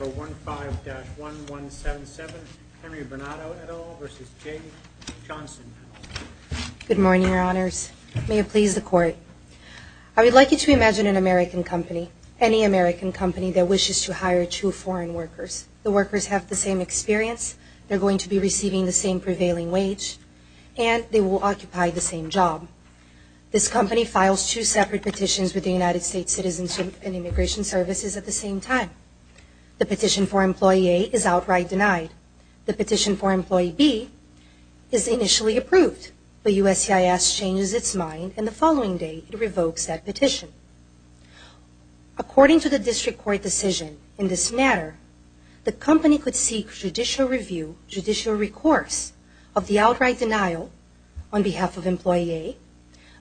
Good morning, your honors. May it please the court. I would like you to imagine an American company, any American company, that wishes to hire two foreign workers. The workers have the same experience, they're going to be receiving the same prevailing wage, and they will occupy the same job. This company files two separate petitions with the United States Citizens and Immigration Services at the same time. The petition for employee A is outright denied. The petition for employee B is initially approved, but USCIS changes its mind and the following day it revokes that petition. According to the district court decision in this matter, the company could seek judicial review, judicial recourse of the outright denial on behalf of employee A,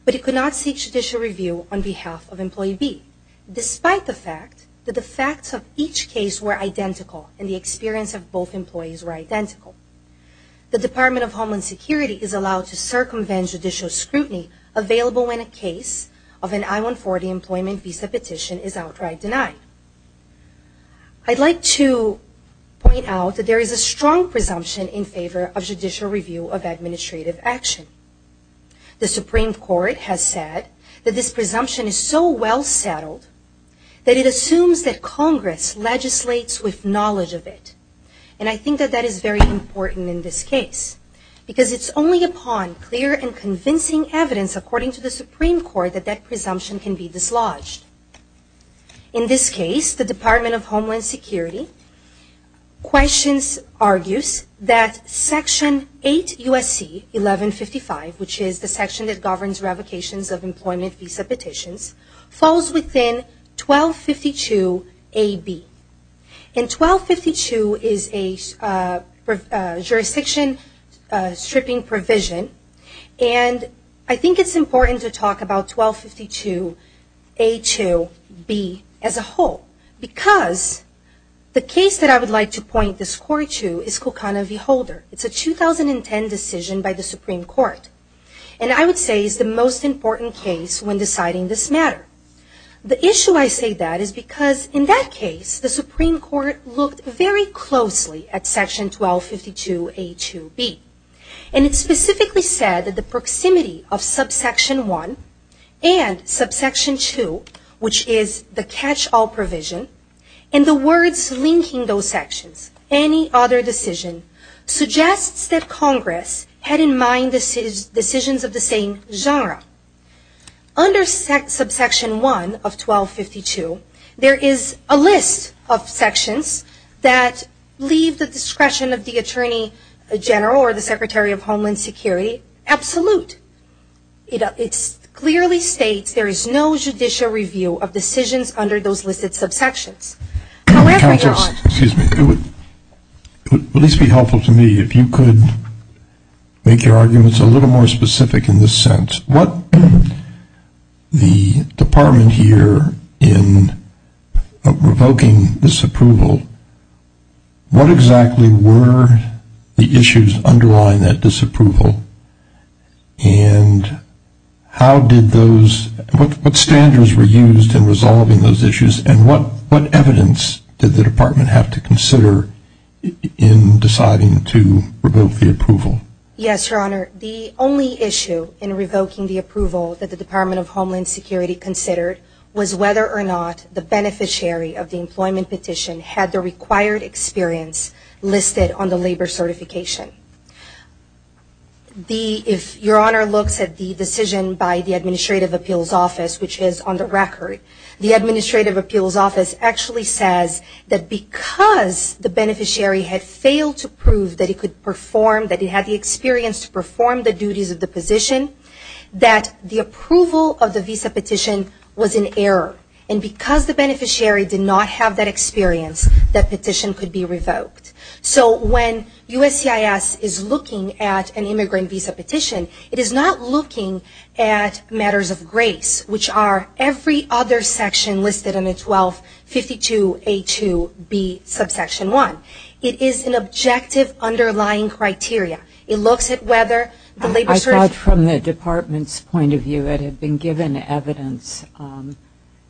but it could not seek judicial review on behalf of employee B, despite the fact that the facts of each case were identical and the experience of both employees were identical. The Department of Homeland Security is allowed to circumvent judicial scrutiny available when a case of an I-140 employment visa petition is outright denied. I'd like to point out that there is a strong presumption in favor of judicial review of administrative action. The Supreme Court has said that this presumption is so well settled that it assumes that Congress legislates with knowledge of it, and I think that that is very important in this case, because it's only upon clear and convincing evidence, according to the Supreme Court, that that presumption can be dislodged. In this case, the Department of which is the section that governs revocations of employment visa petitions, falls within 1252AB. And 1252 is a jurisdiction stripping provision, and I think it's important to talk about 1252A2B as a whole, because the case that I would like to point the score to is the Supreme Court. And I would say it's the most important case when deciding this matter. The issue I say that is because in that case, the Supreme Court looked very closely at section 1252A2B, and it specifically said that the proximity of subsection 1 and subsection 2, which is the catch-all provision, and the words linking those sections, any other decision, suggests that Congress had in mind decisions of the same genre. Under subsection 1 of 1252, there is a list of sections that leave the discretion of the Attorney General or the Secretary of Homeland Security absolute. It clearly states there is no judicial review of decisions under those listed subsections. Excuse me. It would at least be helpful to me if you could make your arguments a little more specific in this sense. What the Department here in revoking disapproval, what exactly were the issues underlying that disapproval, and how did those, what standards were used in resolving those issues, and what evidence did the Department have to consider in deciding to revoke the approval? Yes, Your Honor. The only issue in revoking the approval that the Department of Homeland Security considered was whether or not the beneficiary of the employment petition had the required experience listed on the labor certification. The, if Your Honor looks at the decision by the Administrative Appeals Office, which is on the record, the Administrative Appeals Office actually says that because the beneficiary had failed to prove that he could perform, that he had the experience to perform the duties of the position, that the approval of the visa petition was in error. And because the beneficiary did not have that experience, that petition could be revoked. So when USCIS is looking at an immigrant visa petition, it is not looking at matters of grace, which are every other section listed in the 1252A2B subsection 1. It is an objective underlying criteria. It looks at whether the labor cert... I thought from the Department's point of view it had been given evidence, and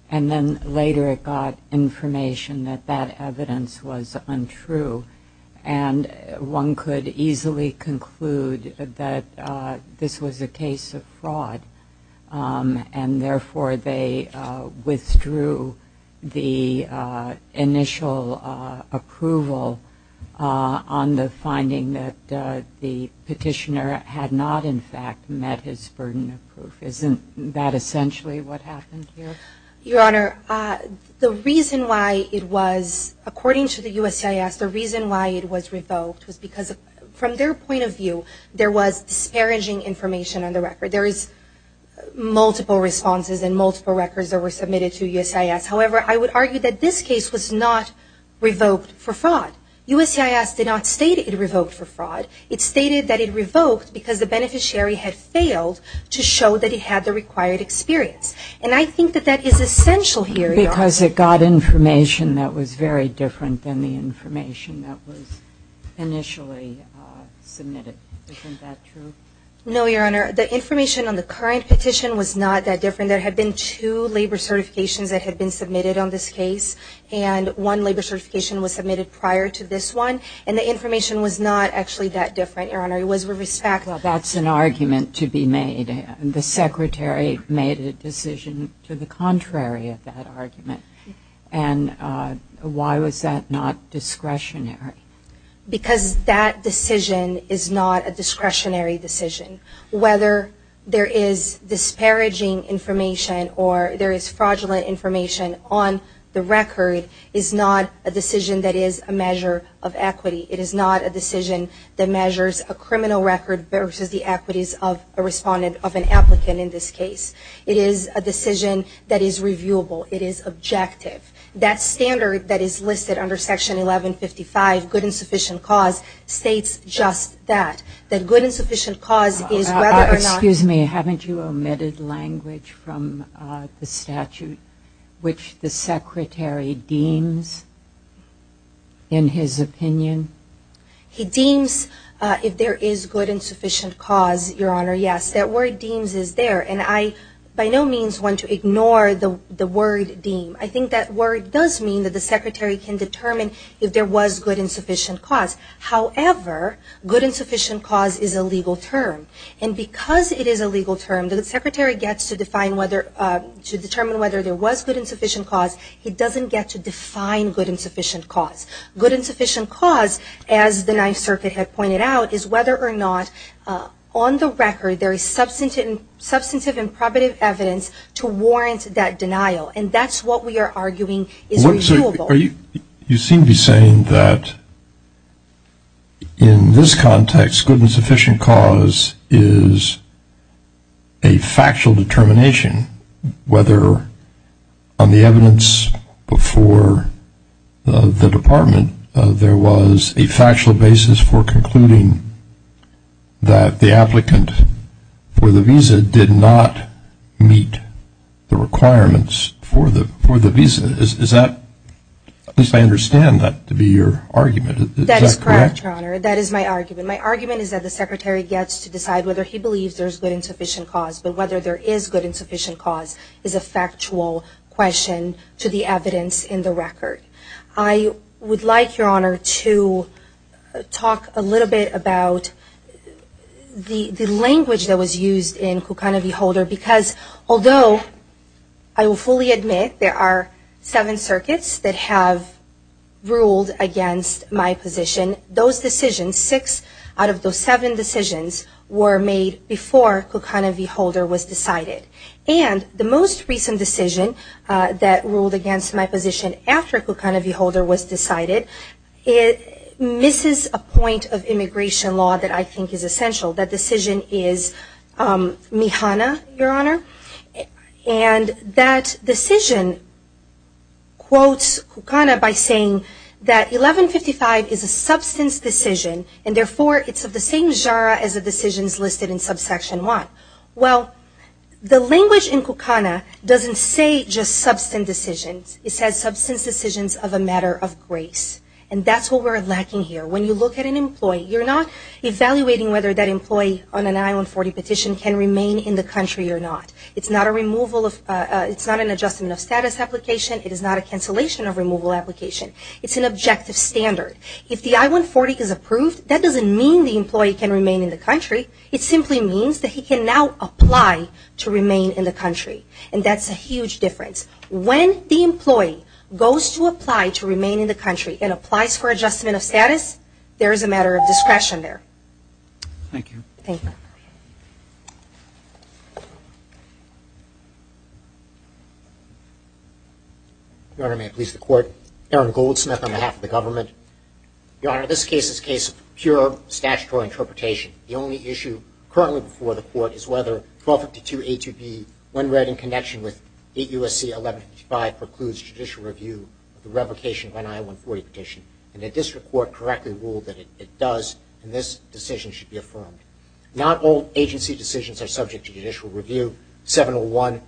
then later it got information that that evidence was untrue. And one could easily conclude that this was a case of fraud, and therefore they withdrew the initial approval on the finding that the petitioner had not, in fact, met his burden of proof. Isn't that essentially what happened here? Your Honor, the reason why it was, according to the USCIS, the reason why it was revoked was because from their point of view, there was disparaging information on the record. There is multiple responses and multiple records that were submitted to USCIS. However, I would argue that this case was not revoked for fraud. USCIS did not state it revoked for fraud. It stated that it revoked because the beneficiary had failed to show that he had the required experience. And I think that that is essential here, Your Honor. Because it got information that was very different than the information that was initially submitted. Isn't that true? No, Your Honor. The information on the current petition was not that different. There had been two labor certifications that had been submitted on this case, and one labor certification was submitted prior to this one. And the information was not actually that different, Your Honor. It was with respect to... You made a decision to the contrary of that argument. And why was that not discretionary? Because that decision is not a discretionary decision. Whether there is disparaging information or there is fraudulent information on the record is not a decision that is a measure of equity. It is not a decision that measures a criminal record versus the equities of a client or an applicant in this case. It is a decision that is reviewable. It is objective. That standard that is listed under Section 1155, good and sufficient cause, states just that. That good and sufficient cause is whether or not... Excuse me. Haven't you omitted language from the statute which the Secretary deems in his opinion? He deems if there is good and sufficient cause, Your Honor, yes. That word deems is there. And I by no means want to ignore the word deem. I think that word does mean that the Secretary can determine if there was good and sufficient cause. However, good and sufficient cause is a legal term. And because it is a legal term, the Secretary gets to determine whether there was good and sufficient cause. He doesn't get to define good and sufficient cause. Good and sufficient cause, as the Ninth Circuit had pointed out, is whether or not on the record there is substantive and probative evidence to warrant that denial. And that's what we are arguing is reviewable. You seem to be saying that in this context, good and sufficient cause is a factual determination whether on the evidence before the Department, there was a factual basis for concluding that the applicant for the visa did not meet the requirements for the visa. Is that, at least I understand that to be your argument. That's correct, Your Honor. That is my argument. My argument is that the Secretary gets to determine whether or not good and sufficient cause is a factual question to the evidence in the record. I would like, Your Honor, to talk a little bit about the language that was used in Kukan-i-vi-Holder because although I will fully admit there are seven circuits that have ruled against my position, those decisions, six out of those seven decisions, were made before Kukan-i-vi-Holder was decided. And the most recent decision that ruled against my position after Kukan-i-vi-Holder was decided, it misses a point of immigration law that I think is essential. That decision is MIHANA, Your Honor. And that decision quotes Kukan-i-vi-Holder by saying that 1155 is a substance decision and therefore it's of the same genre as the decisions listed in subsection 1. Well, the language in Kukan-i-Holder doesn't say just substance decisions. It says substance decisions of a matter of grace. And that's what we're lacking here. When you look at an employee, you're not evaluating whether that employee on an I-140 petition can remain in the country or not. It's not an adjustment of status application. It is not a cancellation of removal application. It's an objective standard. If the I-140 is approved, that doesn't mean the employee can remain in the country. It simply means that he can now apply to remain in the country. And that's a huge difference. When the employee goes to apply to remain in the country and applies for adjustment of status, there is a matter of discretion there. Thank you. Thank you. Your Honor, may it please the Court. Aaron Goldsmith on behalf of the government. Your Honor, the question currently before the Court is whether 1252A2B, when read in connection with 8 U.S.C. 1155, precludes judicial review of the revocation of an I-140 petition. And the district court correctly ruled that it does, and this decision should be affirmed. Not all agency decisions are subject to judicial review. 701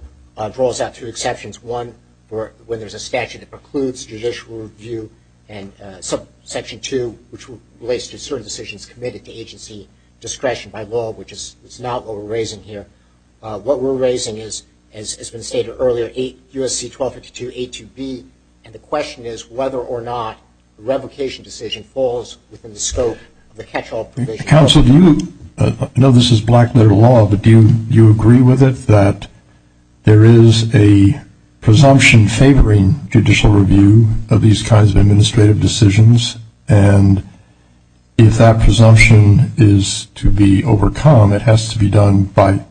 draws out two exceptions. One, when there's a statute that precludes judicial review. And subsection 2, which relates to certain decisions committed to agency discretion by law, which is not what we're raising here. What we're raising is, as has been stated earlier, 8 U.S.C. 1252A2B. And the question is whether or not the revocation decision falls within the scope of the catch-all provision. Counsel, do you – I know this is black-letter law, but do you agree with it, that there is a presumption favoring judicial review of these kinds of administrative decisions? And if that presumption is to be overcome, it has to be done by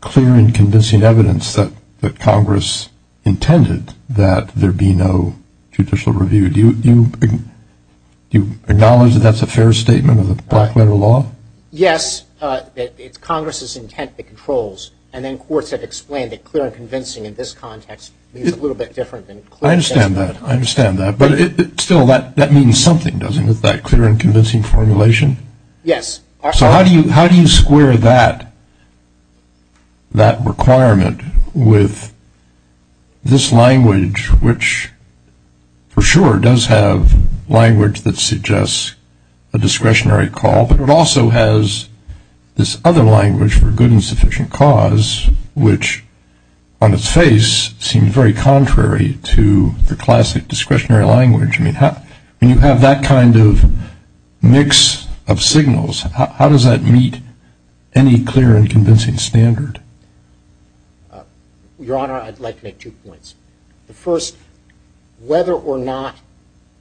clear and convincing evidence that Congress intended that there be no judicial review. Do you acknowledge that that's a fair statement of the black-letter law? Yes. It's Congress's intent that controls. And then courts have explained that clear and convincing in this context means a little bit different than clear and convincing. I understand that. I understand that. But still, that means something, doesn't it? That clear and convincing formulation? Yes. So how do you square that requirement with this language, which for sure does have language that suggests a discretionary call, but it also has this other language for good and the classic discretionary language. When you have that kind of mix of signals, how does that meet any clear and convincing standard? Your Honor, I'd like to make two points. The first, whether or not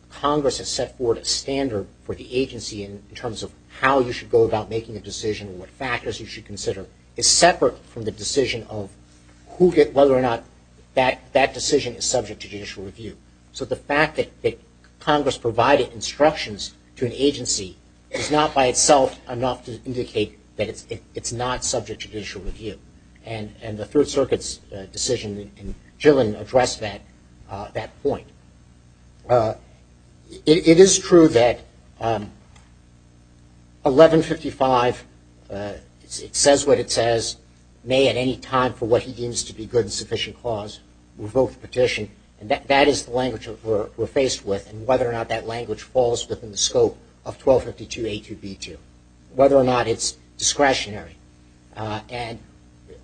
Congress has set forward a standard for the agency in terms of how you should go about making a decision, what factors you should consider, is separate from the decision of whether or not that decision is subject to judicial review. So the fact that Congress provided instructions to an agency is not by itself enough to indicate that it's not subject to judicial review. And the Third Circuit's decision in Gillen addressed that point. It is true that 1155, it says what it says, may at any time for what he deems to be good and sufficient clause, revoke the petition. And that is the language we're faced with and whether or not that language falls within the scope of 1252A2B2, whether or not it's discretionary. And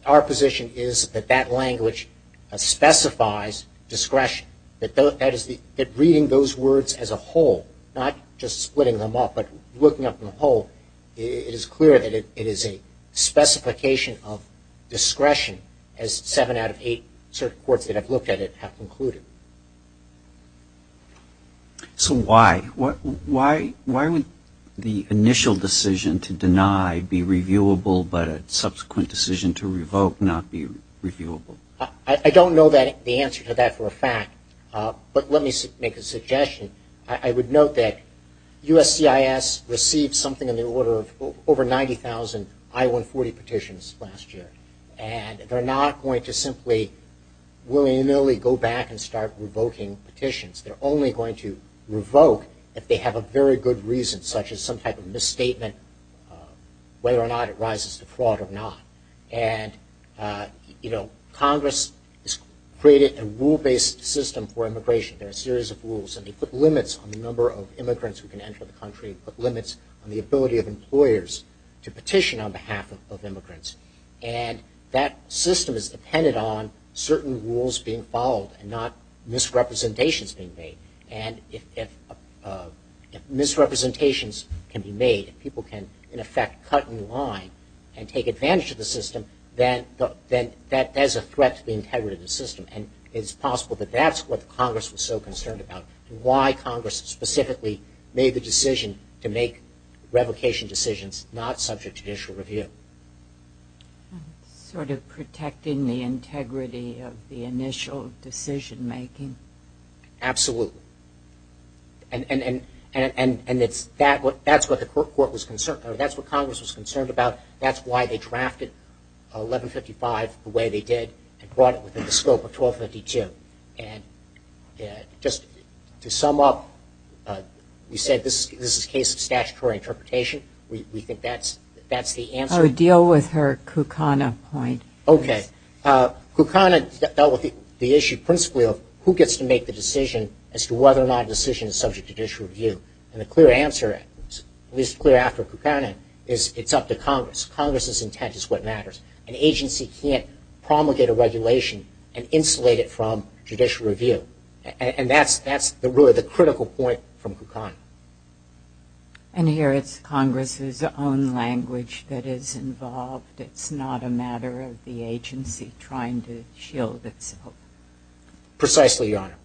our position is that that language specifies discretion, that reading those words as a whole, not just splitting them up, but looking at them whole, it is clear that it is a specification of discretion, as seven out of eight courts that have looked at it have concluded. So why? Why would the initial decision to deny be reviewable, but a subsequent decision to revoke not be reviewable? I don't know the answer to that for a fact, but let me make a suggestion. I would note that USCIS received something in the order of over 90,000 I-140 petitions last year. And they're not going to simply willy-nilly go back and start revoking petitions. They're only going to revoke if they have a very good reason, such as some type of misstatement, whether or not it rises to fraud or not. And Congress has created a rule-based system for immigration. There are a series of rules and they put limits on the number of immigrants who can enter the country, put limits on the ability of employers to petition on behalf of immigrants. And that system is dependent on certain rules being followed and not misrepresentations being made. And if misrepresentations can be made, if people can, in effect, cut in line and take advantage of the system, then that is a threat to the integrity of the system. And it's possible that that's what Congress was so concerned about and why Congress specifically made the decision to make revocation decisions not subject to judicial review. Sort of protecting the integrity of the initial decision-making. Absolutely. And that's what Congress was concerned about. That's why they drafted 1155 the way they did and brought it within the scope of 1252. Just to sum up, we said this is a case of statutory interpretation. We think that's the answer. I would deal with her Kukana point. Okay. Kukana dealt with the issue principally of who gets to make the decision as to whether or not a decision is subject to judicial review. And the clear answer, at least clear after promulgated regulation and insulated from judicial review. And that's really the critical point from Kukana. And here it's Congress's own language that is involved. It's not a matter of the agency Precisely, Your Honor.